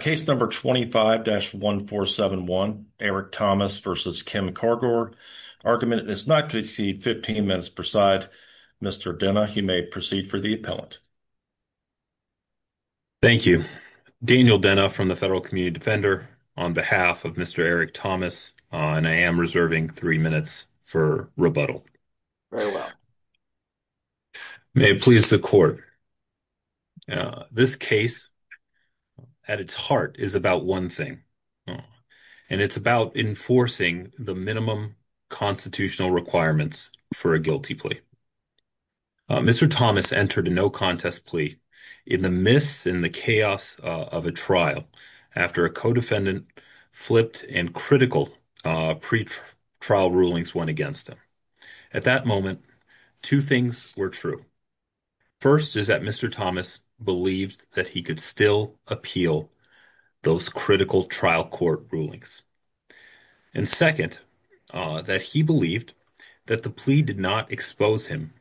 Case number 25-1471, Eric Thomas v. Kim Cargor. Argument is not to exceed 15 minutes per side. Mr. Denna, you may proceed for the appellant. Thank you. Daniel Denna from the Federal Community Defender on behalf of Mr. Eric Thomas, and I am reserving 3 minutes for rebuttal. Very well. May it please the court. This case, at its heart, is about one thing, and it's about enforcing the minimum constitutional requirements for a guilty plea. Mr. Thomas entered a no-contest plea in the mists and the chaos of a trial after a co-defendant flipped and critical pre-trial rulings went against him. At that moment, two things were true. First is that Mr. Thomas believed that he could still appeal those critical trial court rulings. And second, that he believed that the plea did not expose him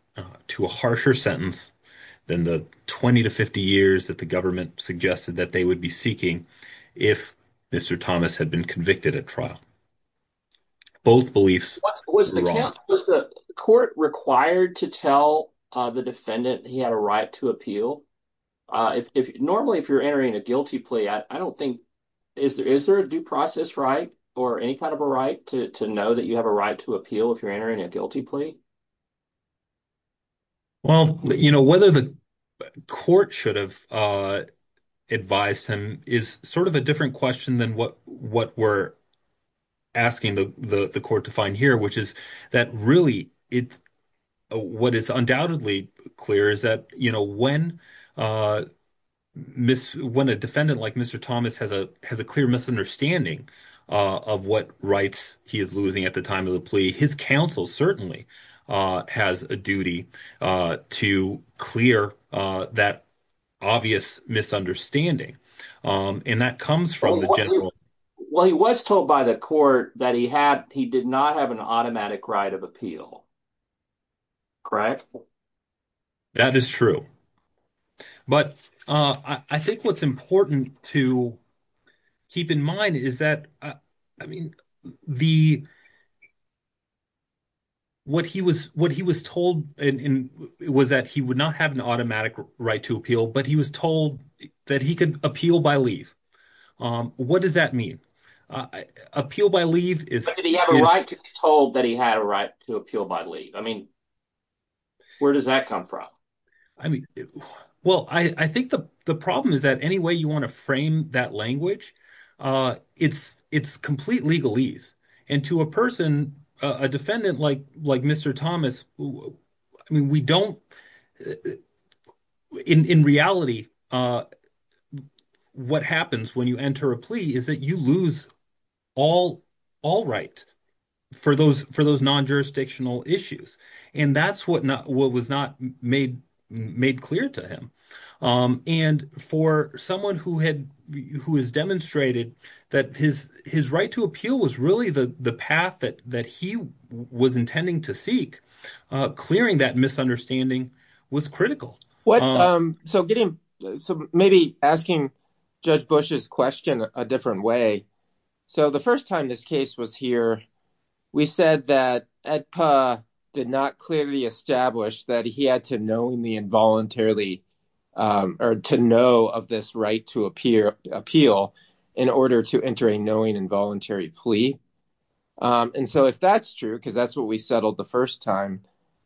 to a harsher sentence than the 20 to 50 years that the government suggested that they would be seeking if Mr. Thomas had been convicted at trial. Both beliefs were wrong. Was the court required to tell the defendant he had a right to appeal? Normally, if you're entering a guilty plea, I don't think – is there a due process right or any kind of a right to know that you have a right to appeal if you're entering a guilty plea? Well, whether the court should have advised him is sort of a different question than what we're asking the court to find here, which is that really what is undoubtedly clear is that when a defendant like Mr. Thomas has a clear misunderstanding of what rights he is losing at the time of the plea, his counsel certainly has a duty to clear that obvious misunderstanding. And that comes from the general – Well, he was told by the court that he did not have an automatic right of appeal. Correct? That is true. But I think what's important to keep in mind is that, I mean, the – what he was told was that he would not have an automatic right to appeal, but he was told that he could appeal by leave. What does that mean? Appeal by leave is – Did he have a right to be told that he had a right to appeal by leave? I mean, where does that come from? Well, I think the problem is that any way you want to frame that language, it's complete legalese. And to a person, a defendant like Mr. Thomas, I mean, we don't – in reality, what happens when you enter a plea is that you lose all right for those non-jurisdictional issues. And that's what was not made clear to him. And for someone who has demonstrated that his right to appeal was really the path that he was intending to seek, clearing that misunderstanding was critical. So maybe asking Judge Bush's question a different way. So the first time this case was here, we said that EDPA did not clearly establish that he had to knowingly and voluntarily – or to know of this right to appeal in order to enter a knowing and voluntary plea. And so if that's true, because that's what we settled the first time,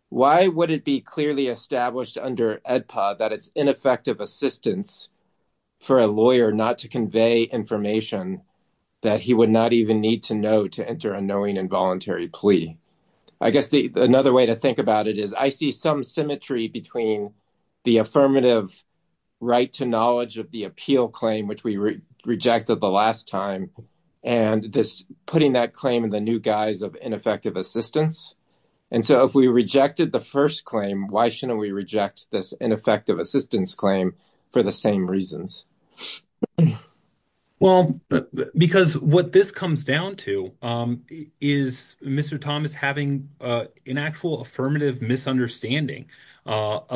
why would it be clearly established under EDPA that it's ineffective assistance for a lawyer not to convey information that he would not even need to know to enter a knowing and voluntary plea? I guess another way to think about it is I see some symmetry between the affirmative right to knowledge of the appeal claim, which we rejected the last time, and this – putting that claim in the new guise of ineffective assistance. And so if we rejected the first claim, why shouldn't we reject this ineffective assistance claim for the same reasons? Well, because what this comes down to is Mr. Thomas having an actual affirmative misunderstanding about –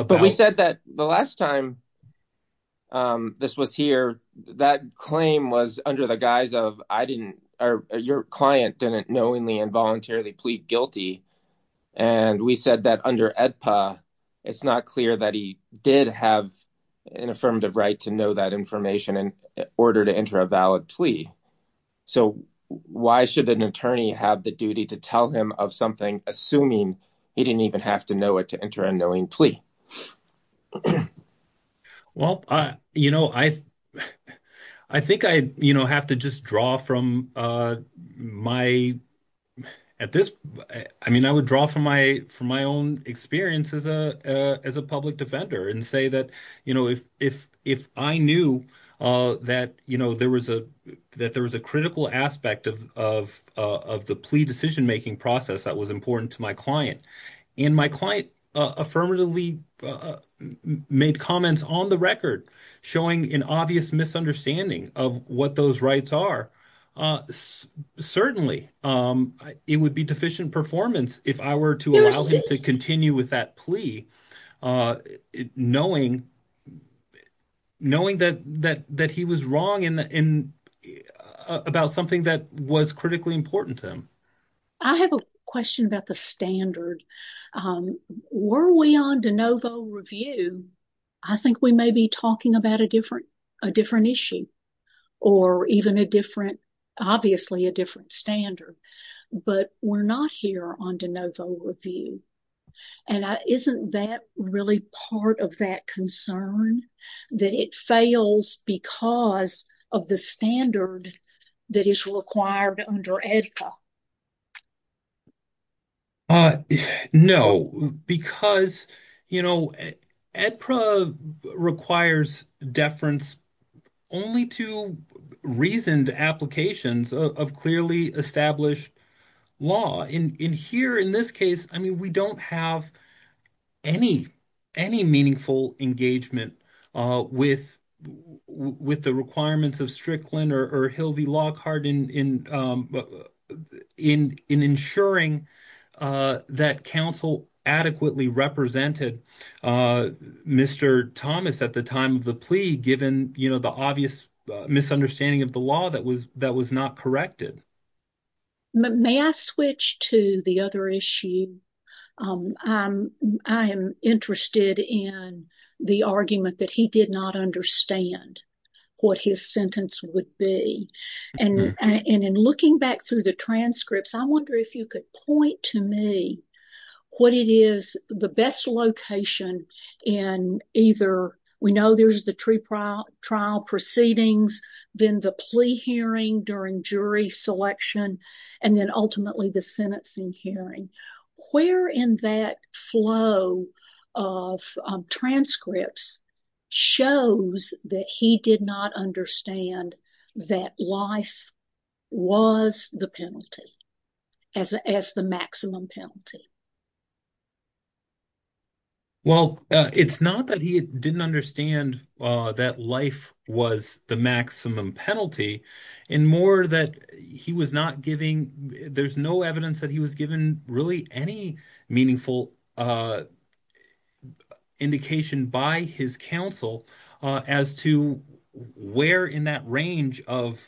in order to enter a valid plea. So why should an attorney have the duty to tell him of something assuming he didn't even have to know it to enter a knowing plea? Well, I think I have to just draw from my – at this – I mean I would draw from my own experience as a public defender and say that if I knew that there was a critical aspect of the plea decision-making process that was important to my client, and my client affirmatively made comments on the record showing an obvious misunderstanding of what those rights are, certainly it would be deficient performance if I were to allow him to continue with that plea knowing that he was wrong about something that was critically important to him. I have a question about the standard. Were we on de novo review? I think we may be talking about a different issue or even a different – obviously a different standard, but we're not here on de novo review. And isn't that really part of that concern, that it fails because of the standard that is required under AEDPA? No, because AEDPA requires deference only to reasoned applications of clearly established law. In here, in this case, I mean we don't have any meaningful engagement with the requirements of Strickland or Hildy Lockhart in ensuring that counsel adequately represented Mr. Thomas at the time of the plea given the obvious misunderstanding of the law that was not corrected. May I switch to the other issue? I am interested in the argument that he did not understand what his sentence would be. And in looking back through the transcripts, I wonder if you could point to me what it is the best location in either – we know there's the trial proceedings, then the plea hearing during jury selection, and then ultimately the sentencing hearing. Where in that flow of transcripts shows that he did not understand that life was the penalty, as the maximum penalty? Well, it's not that he didn't understand that life was the maximum penalty, and more that he was not giving – there's no evidence that he was given really any meaningful indication by his counsel as to where in that range of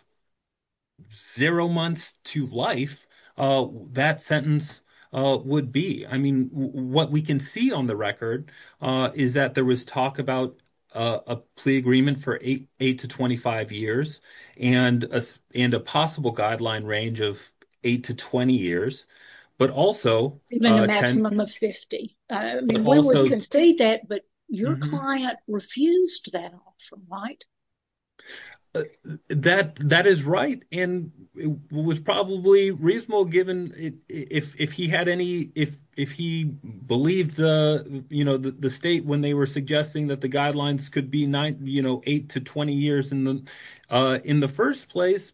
zero months to life that sentence would be. I mean, what we can see on the record is that there was talk about a plea agreement for 8 to 25 years and a possible guideline range of 8 to 20 years, but also – Even a maximum of 50. But also – We would concede that, but your client refused that option, right? That is right, and it was probably reasonable given if he had any – if he believed the state when they were suggesting that the guidelines could be 8 to 20 years in the first place,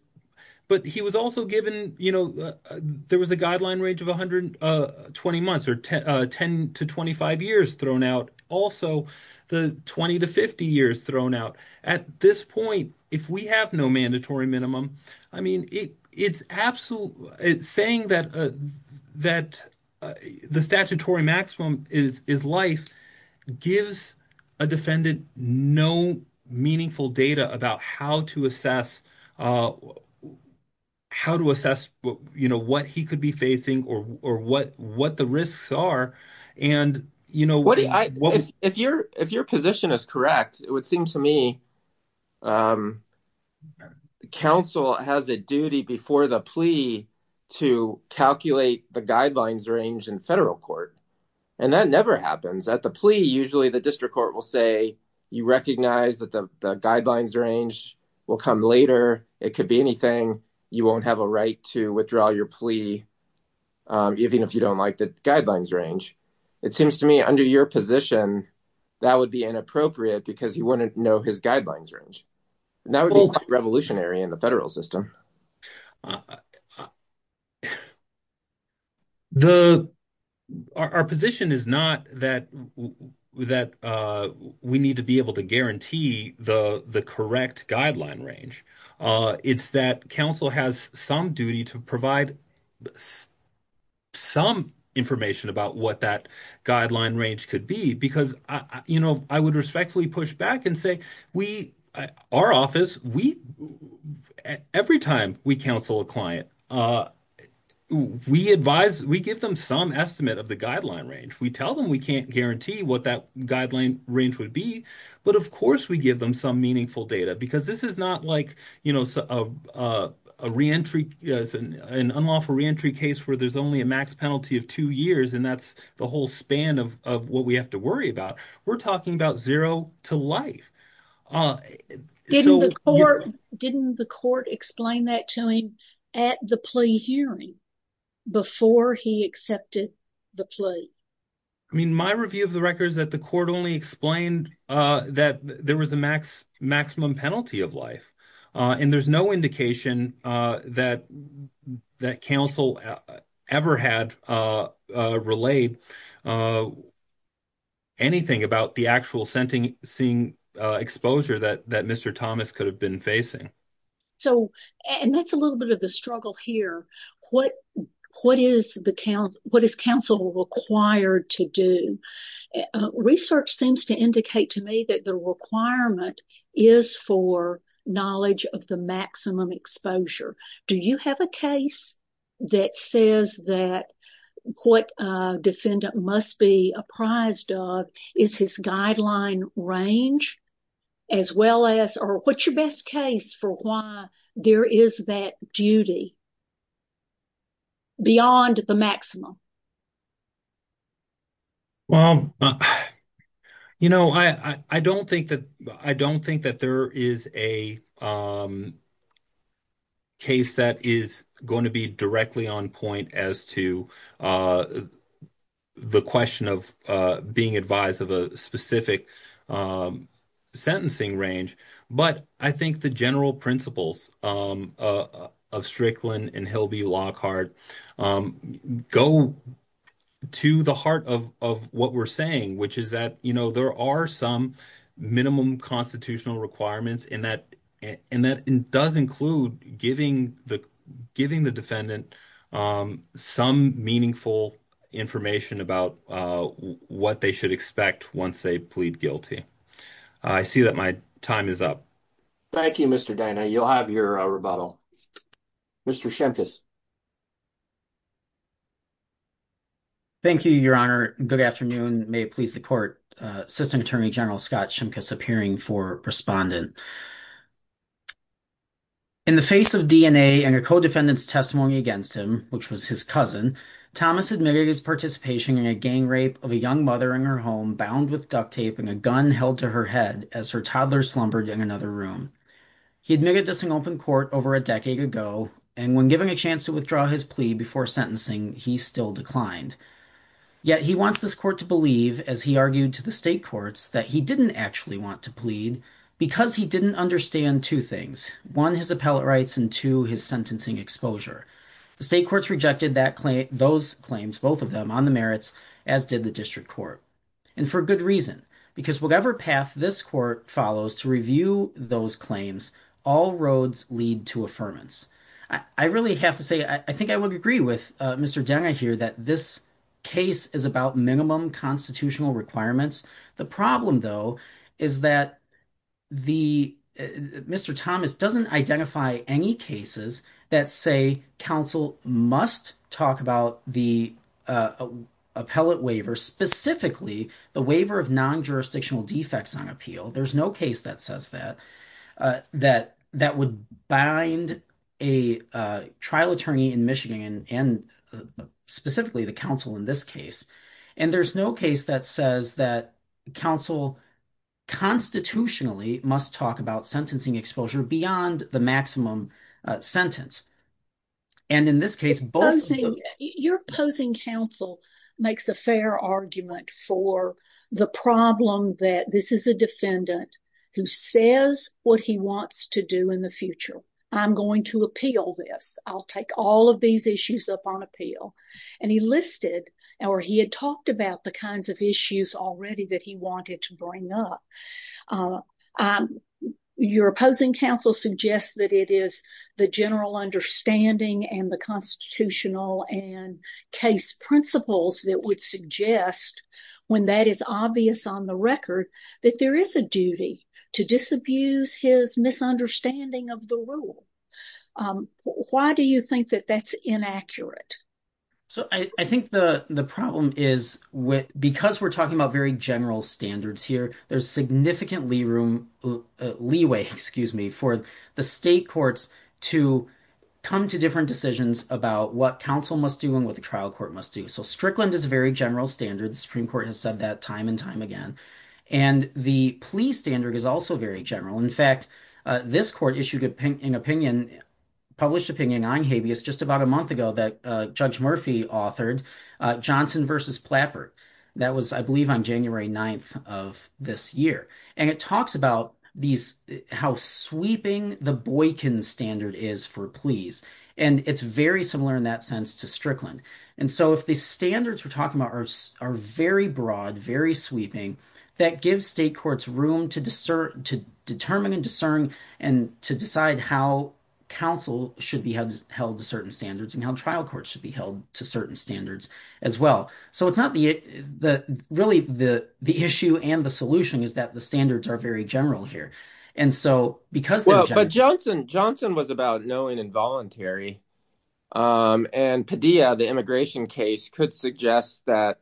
but he was also given – there was a guideline range of 120 months or 10 to 25 years thrown out. But also the 20 to 50 years thrown out. At this point, if we have no mandatory minimum, I mean it's – saying that the statutory maximum is life gives a defendant no meaningful data about how to assess what he could be facing or what the risks are, and – If your position is correct, it would seem to me counsel has a duty before the plea to calculate the guidelines range in federal court, and that never happens. At the plea, usually the district court will say you recognize that the guidelines range will come later. It could be anything. You won't have a right to withdraw your plea even if you don't like the guidelines range. It seems to me under your position, that would be inappropriate because he wouldn't know his guidelines range. That would be revolutionary in the federal system. Our position is not that we need to be able to guarantee the correct guideline range. It's that counsel has some duty to provide some information about what that guideline range could be because I would respectfully push back and say we – our office, we – every time we counsel a client, we advise – we give them some estimate of the guideline range. We tell them we can't guarantee what that guideline range would be, but of course we give them some meaningful data because this is not like a reentry – an unlawful reentry case where there's only a max penalty of two years, and that's the whole span of what we have to worry about. We're talking about zero to life. Didn't the court explain that to him at the plea hearing before he accepted the plea? I mean, my review of the record is that the court only explained that there was a maximum penalty of life, and there's no indication that counsel ever had relayed anything about the actual sentencing exposure that Mr. Thomas could have been facing. So – and that's a little bit of the struggle here. What is the – what is counsel required to do? Research seems to indicate to me that the requirement is for knowledge of the maximum exposure. Do you have a case that says that what a defendant must be apprised of is his guideline range as well as – or what's your best case for why there is that duty beyond the maximum? Well, you know, I don't think that there is a case that is going to be directly on point as to the question of being advised of a specific sentencing range. But I think the general principles of Strickland and Hilby Lockhart go to the heart of what we're saying, which is that there are some minimum constitutional requirements, and that does include giving the defendant some meaningful information about what they should expect once they plead guilty. I see that my time is up. Thank you, Mr. Dinah. You'll have your rebuttal. Mr. Shimkus. Thank you, Your Honor. Good afternoon. May it please the court. Assistant Attorney General Scott Shimkus appearing for respondent. In the face of DNA and her co-defendant's testimony against him, which was his cousin, Thomas admitted his participation in a gang rape of a young mother in her home bound with duct tape and a gun held to her head as her toddler slumbered in another room. He admitted this in open court over a decade ago, and when given a chance to withdraw his plea before sentencing, he still declined. Yet he wants this court to believe, as he argued to the state courts, that he didn't actually want to plead because he didn't understand two things. One, his appellate rights, and two, his sentencing exposure. The state courts rejected those claims, both of them, on the merits, as did the district court. And for good reason, because whatever path this court follows to review those claims, all roads lead to affirmance. I really have to say, I think I would agree with Mr. Denna here that this case is about minimum constitutional requirements. The problem, though, is that Mr. Thomas doesn't identify any cases that say counsel must talk about the appellate waiver, specifically the waiver of non-jurisdictional defects on appeal. There's no case that says that, that would bind a trial attorney in Michigan and specifically the counsel in this case. And there's no case that says that counsel constitutionally must talk about sentencing exposure beyond the maximum sentence. And in this case, both… Your opposing counsel makes a fair argument for the problem that this is a defendant who says what he wants to do in the future. I'm going to appeal this. I'll take all of these issues up on appeal. And he listed or he had talked about the kinds of issues already that he wanted to bring up. Your opposing counsel suggests that it is the general understanding and the constitutional and case principles that would suggest, when that is obvious on the record, that there is a duty to disabuse his misunderstanding of the rule. Why do you think that that's inaccurate? So I think the problem is because we're talking about very general standards here, there's significant leeway for the state courts to come to different decisions about what counsel must do and what the trial court must do. So Strickland is a very general standard. The Supreme Court has said that time and time again. And the plea standard is also very general. In fact, this court issued an opinion, published opinion on habeas just about a month ago that Judge Murphy authored, Johnson v. Plapper. That was, I believe, on January 9th of this year. And it talks about these – how sweeping the Boykin standard is for pleas. And it's very similar in that sense to Strickland. And so if the standards we're talking about are very broad, very sweeping, that gives state courts room to determine and discern and to decide how counsel should be held to certain standards and how trial courts should be held to certain standards as well. So it's not the – really, the issue and the solution is that the standards are very general here. But Johnson was about knowing involuntary, and Padilla, the immigration case, could suggest that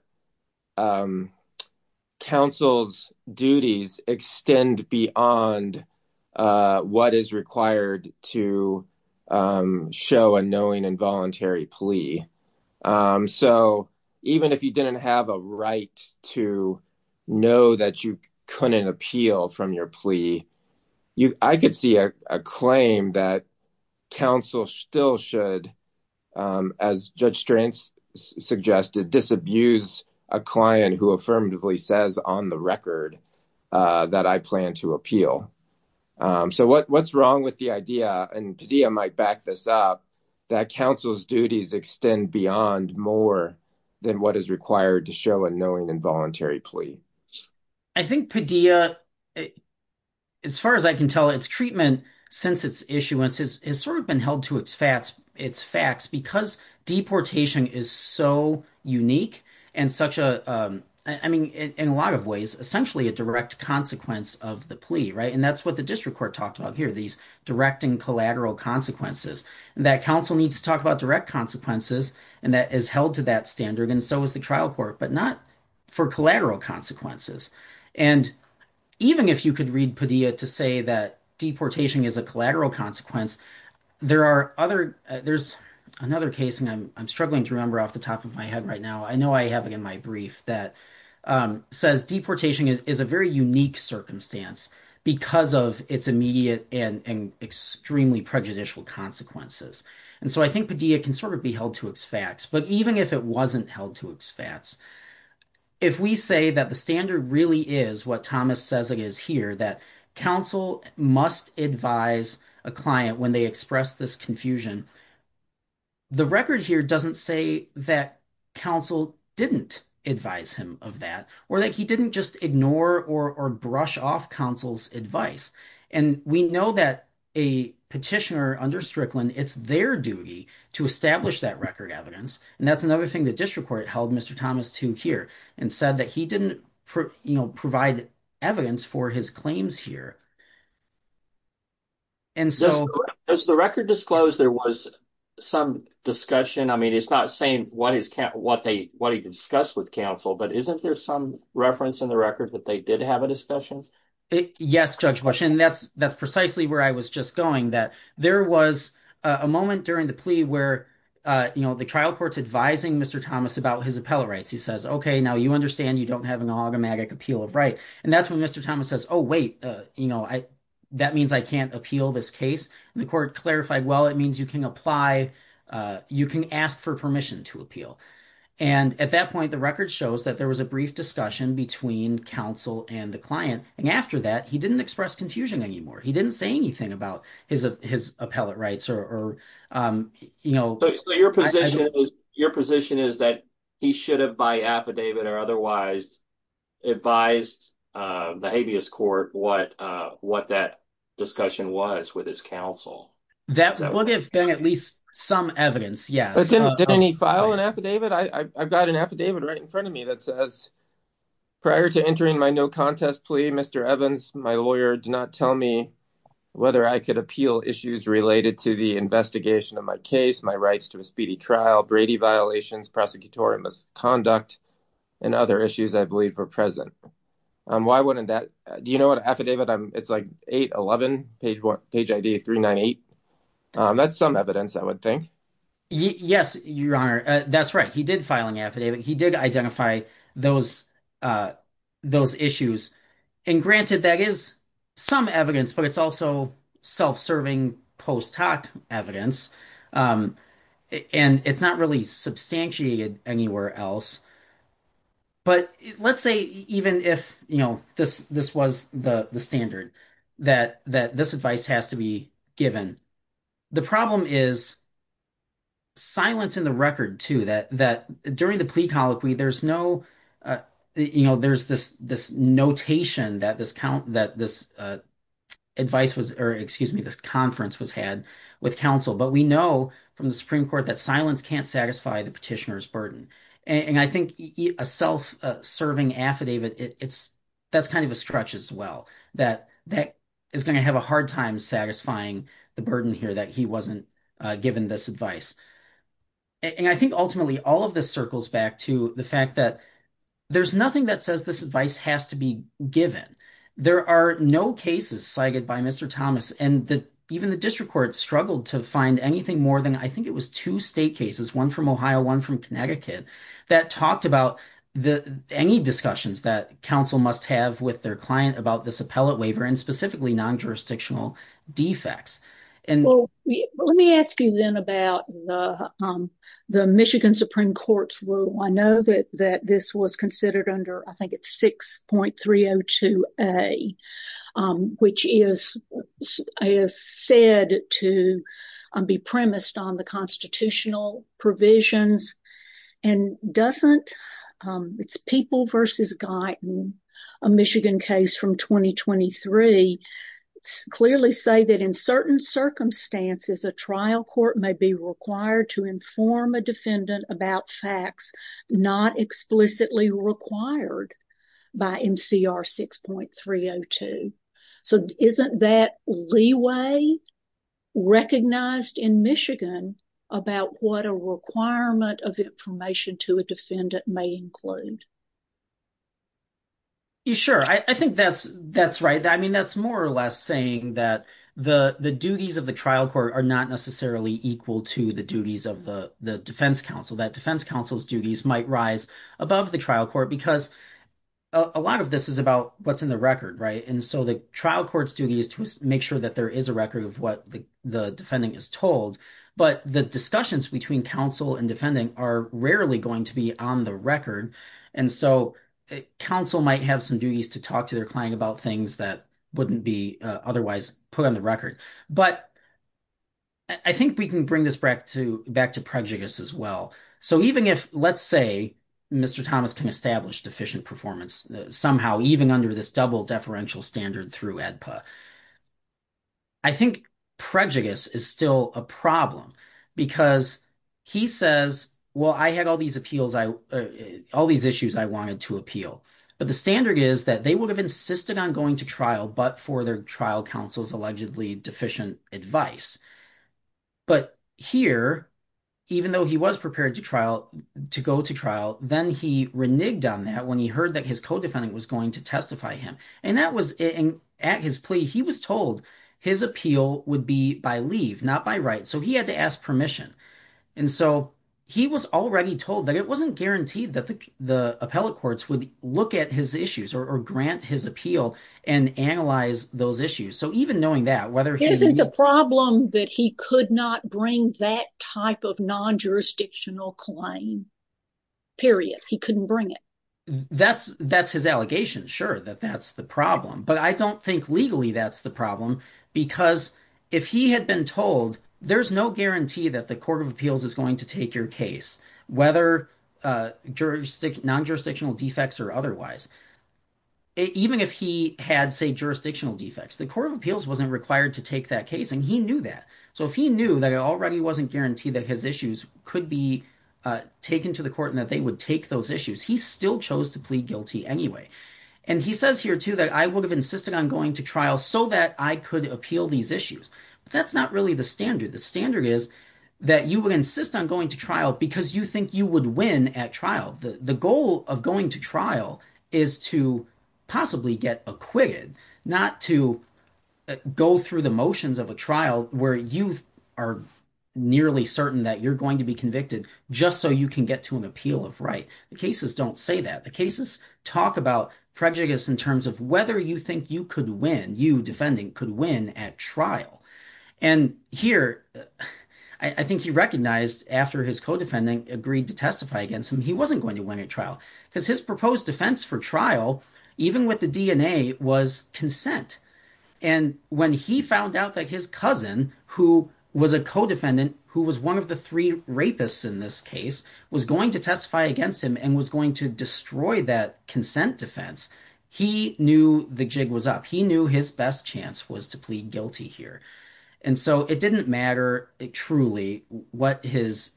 counsel's duties extend beyond what is required to show a knowing involuntary plea. So even if you didn't have a right to know that you couldn't appeal from your plea, I could see a claim that counsel still should, as Judge Stranz suggested, disabuse a client who affirmatively says on the record that I plan to appeal. So what's wrong with the idea – and Padilla might back this up – that counsel's duties extend beyond more than what is required to show a knowing involuntary plea? I think Padilla, as far as I can tell, its treatment since its issuance has sort of been held to its facts because deportation is so unique and such a – I mean in a lot of ways, essentially a direct consequence of the plea. And that's what the district court talked about here, these direct and collateral consequences. And that counsel needs to talk about direct consequences, and that is held to that standard, and so is the trial court, but not for collateral consequences. And even if you could read Padilla to say that deportation is a collateral consequence, there are other – there's another case, and I'm struggling to remember off the top of my head right now. I know I have it in my brief that says deportation is a very unique circumstance because of its immediate and extremely prejudicial consequences. And so I think Padilla can sort of be held to its facts, but even if it wasn't held to its facts, if we say that the standard really is what Thomas says it is here, that counsel must advise a client when they express this confusion, the record here doesn't say that counsel didn't advise him of that or that he didn't just ignore or brush off counsel's advice. And we know that a petitioner under Strickland, it's their duty to establish that record evidence, and that's another thing the district court held Mr. Thomas to hear and said that he didn't provide evidence for his claims here. And so – Does the record disclose there was some discussion – I mean, it's not saying what he discussed with counsel, but isn't there some reference in the record that they did have a discussion? Yes, Judge Bush, and that's precisely where I was just going, that there was a moment during the plea where the trial court's advising Mr. Thomas about his appellate rights. He says, okay, now you understand you don't have an automatic appeal of right. And that's when Mr. Thomas says, oh, wait, that means I can't appeal this case. And the court clarified, well, it means you can apply – you can ask for permission to appeal. And at that point, the record shows that there was a brief discussion between counsel and the client, and after that, he didn't express confusion anymore. He didn't say anything about his appellate rights or – So your position is that he should have by affidavit or otherwise advised the habeas court what that discussion was with his counsel? That would have been at least some evidence, yes. Did he file an affidavit? I've got an affidavit right in front of me that says, prior to entering my no contest plea, Mr. Evans, my lawyer, do not tell me whether I could appeal issues related to the investigation of my case, my rights to a speedy trial, Brady violations, prosecutorial misconduct, and other issues I believe are present. Why wouldn't that – do you know what affidavit – it's like 811, page ID 398. That's some evidence, I would think. Yes, Your Honor. That's right. He did file an affidavit. He did identify those issues. And granted, that is some evidence, but it's also self-serving post hoc evidence, and it's not really substantiated anywhere else. But let's say even if this was the standard that this advice has to be given, the problem is silence in the record too, that during the plea colloquy, there's no – there's this notation that this advice was – or excuse me, this conference was had with counsel. But we know from the Supreme Court that silence can't satisfy the petitioner's burden. And I think a self-serving affidavit, that's kind of a stretch as well, that is going to have a hard time satisfying the burden here that he wasn't given this advice. And I think ultimately all of this circles back to the fact that there's nothing that says this advice has to be given. There are no cases cited by Mr. Thomas, and even the district court struggled to find anything more than I think it was two state cases, one from Ohio, one from Connecticut, that talked about any discussions that counsel must have with their client about this appellate waiver and specifically non-jurisdictional defects. Well, let me ask you then about the Michigan Supreme Court's rule. I know that this was considered under, I think it's 6.302A, which is said to be premised on the constitutional provisions and doesn't – it's People v. Guyton, a Michigan case from 2023. They clearly say that in certain circumstances, a trial court may be required to inform a defendant about facts not explicitly required by MCR 6.302. So isn't that leeway recognized in Michigan about what a requirement of information to a defendant may include? Sure. I think that's right. I mean that's more or less saying that the duties of the trial court are not necessarily equal to the duties of the defense counsel, that defense counsel's duties might rise above the trial court because a lot of this is about what's in the record. And so the trial court's duty is to make sure that there is a record of what the defending is told, but the discussions between counsel and defending are rarely going to be on the record. And so counsel might have some duties to talk to their client about things that wouldn't be otherwise put on the record. But I think we can bring this back to prejudice as well. So even if, let's say, Mr. Thomas can establish deficient performance somehow even under this double deferential standard through ADPA, I think prejudice is still a problem because he says, well, I had all these appeals – all these issues I wanted to appeal. But the standard is that they would have insisted on going to trial but for their trial counsel's allegedly deficient advice. But here, even though he was prepared to trial – to go to trial, then he reneged on that when he heard that his co-defendant was going to testify him. And that was – and at his plea, he was told his appeal would be by leave, not by right. So he had to ask permission. And so he was already told that it wasn't guaranteed that the appellate courts would look at his issues or grant his appeal and analyze those issues. So even knowing that, whether he – Isn't the problem that he could not bring that type of non-jurisdictional claim, period? He couldn't bring it. That's his allegation, sure, that that's the problem. But I don't think legally that's the problem because if he had been told there's no guarantee that the court of appeals is going to take your case, whether non-jurisdictional defects or otherwise. Even if he had, say, jurisdictional defects, the court of appeals wasn't required to take that case, and he knew that. So if he knew that it already wasn't guaranteed that his issues could be taken to the court and that they would take those issues, he still chose to plead guilty anyway. And he says here, too, that I would have insisted on going to trial so that I could appeal these issues. But that's not really the standard. The standard is that you would insist on going to trial because you think you would win at trial. The goal of going to trial is to possibly get acquitted, not to go through the motions of a trial where you are nearly certain that you're going to be convicted just so you can get to an appeal of right. The cases don't say that. The cases talk about prejudice in terms of whether you think you could win, you defending, could win at trial. And here, I think he recognized after his co-defendant agreed to testify against him, he wasn't going to win at trial because his proposed defense for trial, even with the DNA, was consent. And when he found out that his cousin, who was a co-defendant, who was one of the three rapists in this case, was going to testify against him and was going to destroy that consent defense, he knew the jig was up. He knew his best chance was to plead guilty here. And so it didn't matter truly what his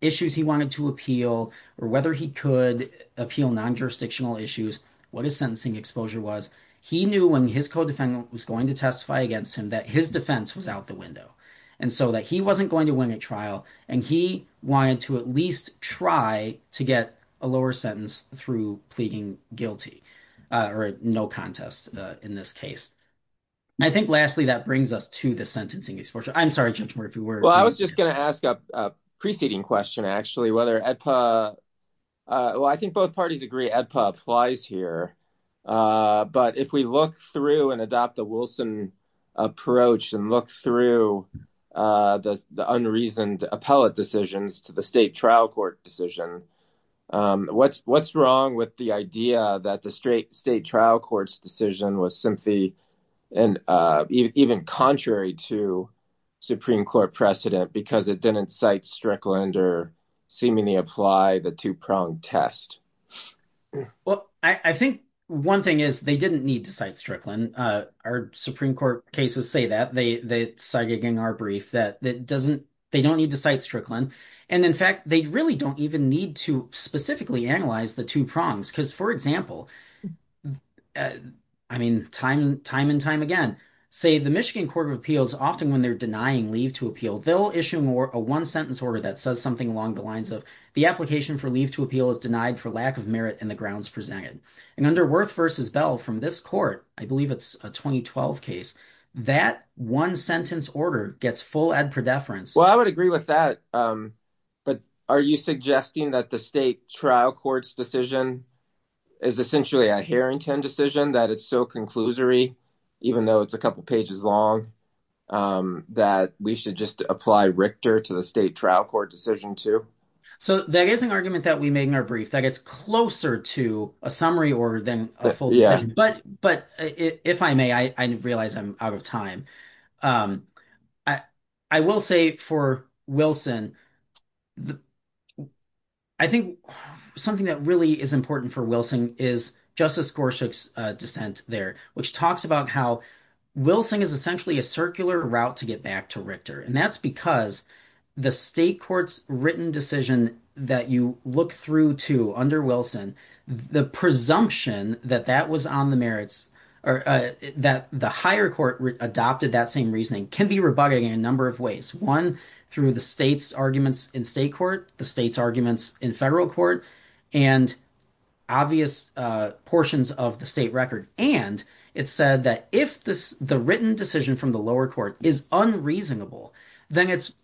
issues he wanted to appeal or whether he could appeal non-jurisdictional issues, what his sentencing exposure was. He knew when his co-defendant was going to testify against him that his defense was out the window and so that he wasn't going to win at trial, and he wanted to at least try to get a lower sentence through pleading guilty or no contest in this case. I think, lastly, that brings us to the sentencing exposure. I'm sorry, Judge Moore, if you were. Well, I was just going to ask a preceding question, actually, whether EDPA – well, I think both parties agree EDPA applies here. But if we look through and adopt the Wilson approach and look through the unreasoned appellate decisions to the state trial court decision, what's wrong with the idea that the state trial court's decision was simply and even contrary to Supreme Court precedent because it didn't cite Strickland or seemingly apply the two-pronged test? Well, I think one thing is they didn't need to cite Strickland. Our Supreme Court cases say that. They cite it in our brief that it doesn't – they don't need to cite Strickland. And, in fact, they really don't even need to specifically analyze the two prongs because, for example, I mean time and time again, say the Michigan Court of Appeals, often when they're denying leave to appeal, they'll issue a one-sentence order that says something along the lines of the application for leave to appeal is denied for lack of merit in the grounds presented. And under Wirth v. Bell from this court, I believe it's a 2012 case, that one-sentence order gets full EDPA deference. Well, I would agree with that. But are you suggesting that the state trial court's decision is essentially a Harrington decision, that it's so conclusory, even though it's a couple pages long, that we should just apply Richter to the state trial court decision too? So that is an argument that we made in our brief. That gets closer to a summary order than a full decision. But if I may, I realize I'm out of time. I will say for Wilson, I think something that really is important for Wilson is Justice Gorsuch's dissent there, which talks about how Wilson is essentially a circular route to get back to Richter. And that's because the state court's written decision that you look through to under Wilson, the presumption that that was on the merits or that the higher court adopted that same reasoning can be rebugging in a number of ways. One, through the state's arguments in state court, the state's arguments in federal court, and obvious portions of the state record. And it said that if the written decision from the lower court is unreasonable, then it's –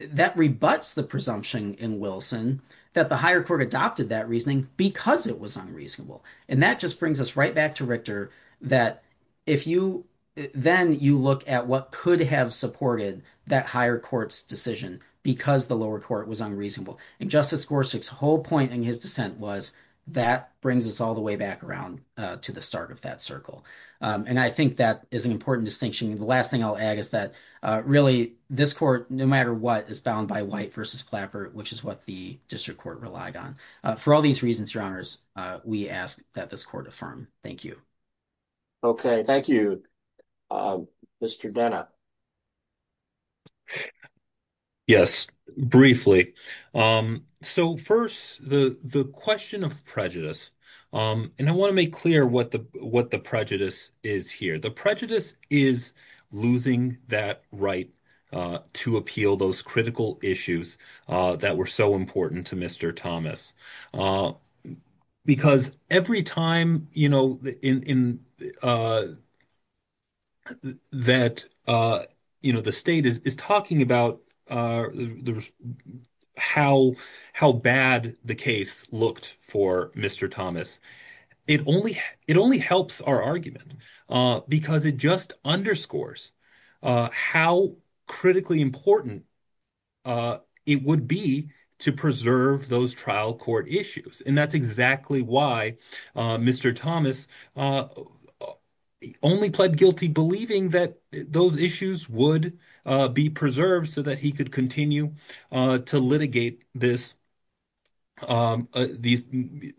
that rebuts the presumption in Wilson that the higher court adopted that reasoning because it was unreasonable. And that just brings us right back to Richter that if you – then you look at what could have supported that higher court's decision because the lower court was unreasonable. And Justice Gorsuch's whole point in his dissent was that brings us all the way back around to the start of that circle. And I think that is an important distinction. And the last thing I'll add is that, really, this court, no matter what, is bound by White v. Clapper, which is what the district court relied on. For all these reasons, Your Honors, we ask that this court affirm. Thank you. Okay. Thank you, Mr. Denna. And that the state is talking about how bad the case looked for Mr. Thomas. It only helps our argument because it just underscores how critically important it would be to preserve those trial court issues. And that's exactly why Mr. Thomas only pled guilty believing that those issues would be preserved so that he could continue to litigate this – Brady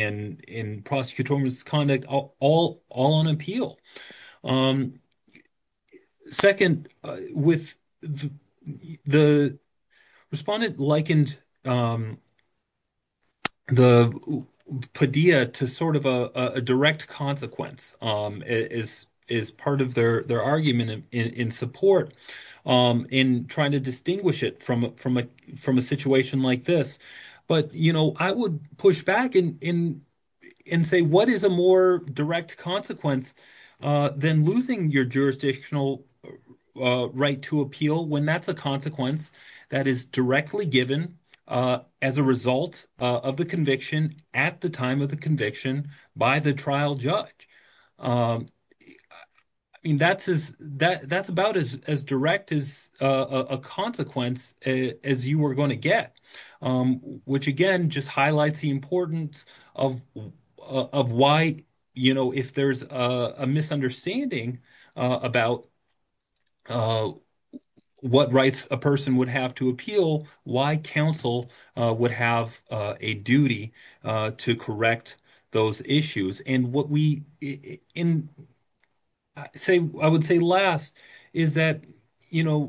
and prosecutorial misconduct all on appeal. Second, with – the respondent likened the Padilla to sort of a direct consequence as part of their argument in support in trying to distinguish it from a situation like this. But I would push back and say, what is a more direct consequence than losing your jurisdictional right to appeal when that's a consequence that is directly given as a result of the conviction at the time of the conviction by the trial judge? I mean that's about as direct as a consequence as you were going to get, which again just highlights the importance of why if there's a misunderstanding about what rights a person would have to appeal, why counsel would have a duty to correct those issues. And what we – I would say last is that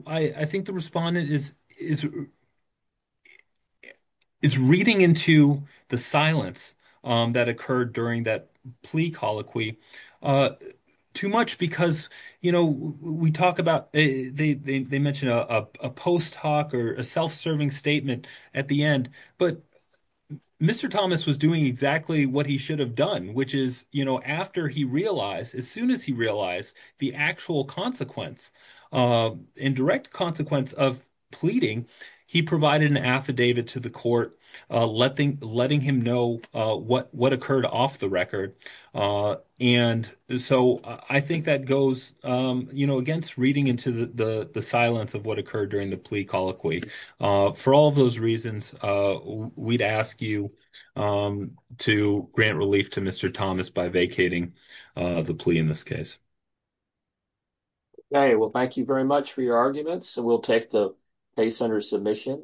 I think the respondent is reading into the silence that occurred during that plea colloquy too much because we talk about – they mention a post hoc or a self-serving statement at the end. But Mr. Thomas was doing exactly what he should have done, which is after he realized – as soon as he realized the actual consequence, indirect consequence of pleading, he provided an affidavit to the court letting him know what occurred off the record. And so I think that goes against reading into the silence of what occurred during the plea colloquy. For all those reasons, we'd ask you to grant relief to Mr. Thomas by vacating the plea in this case. Okay. Well, thank you very much for your arguments. We'll take the case under submission.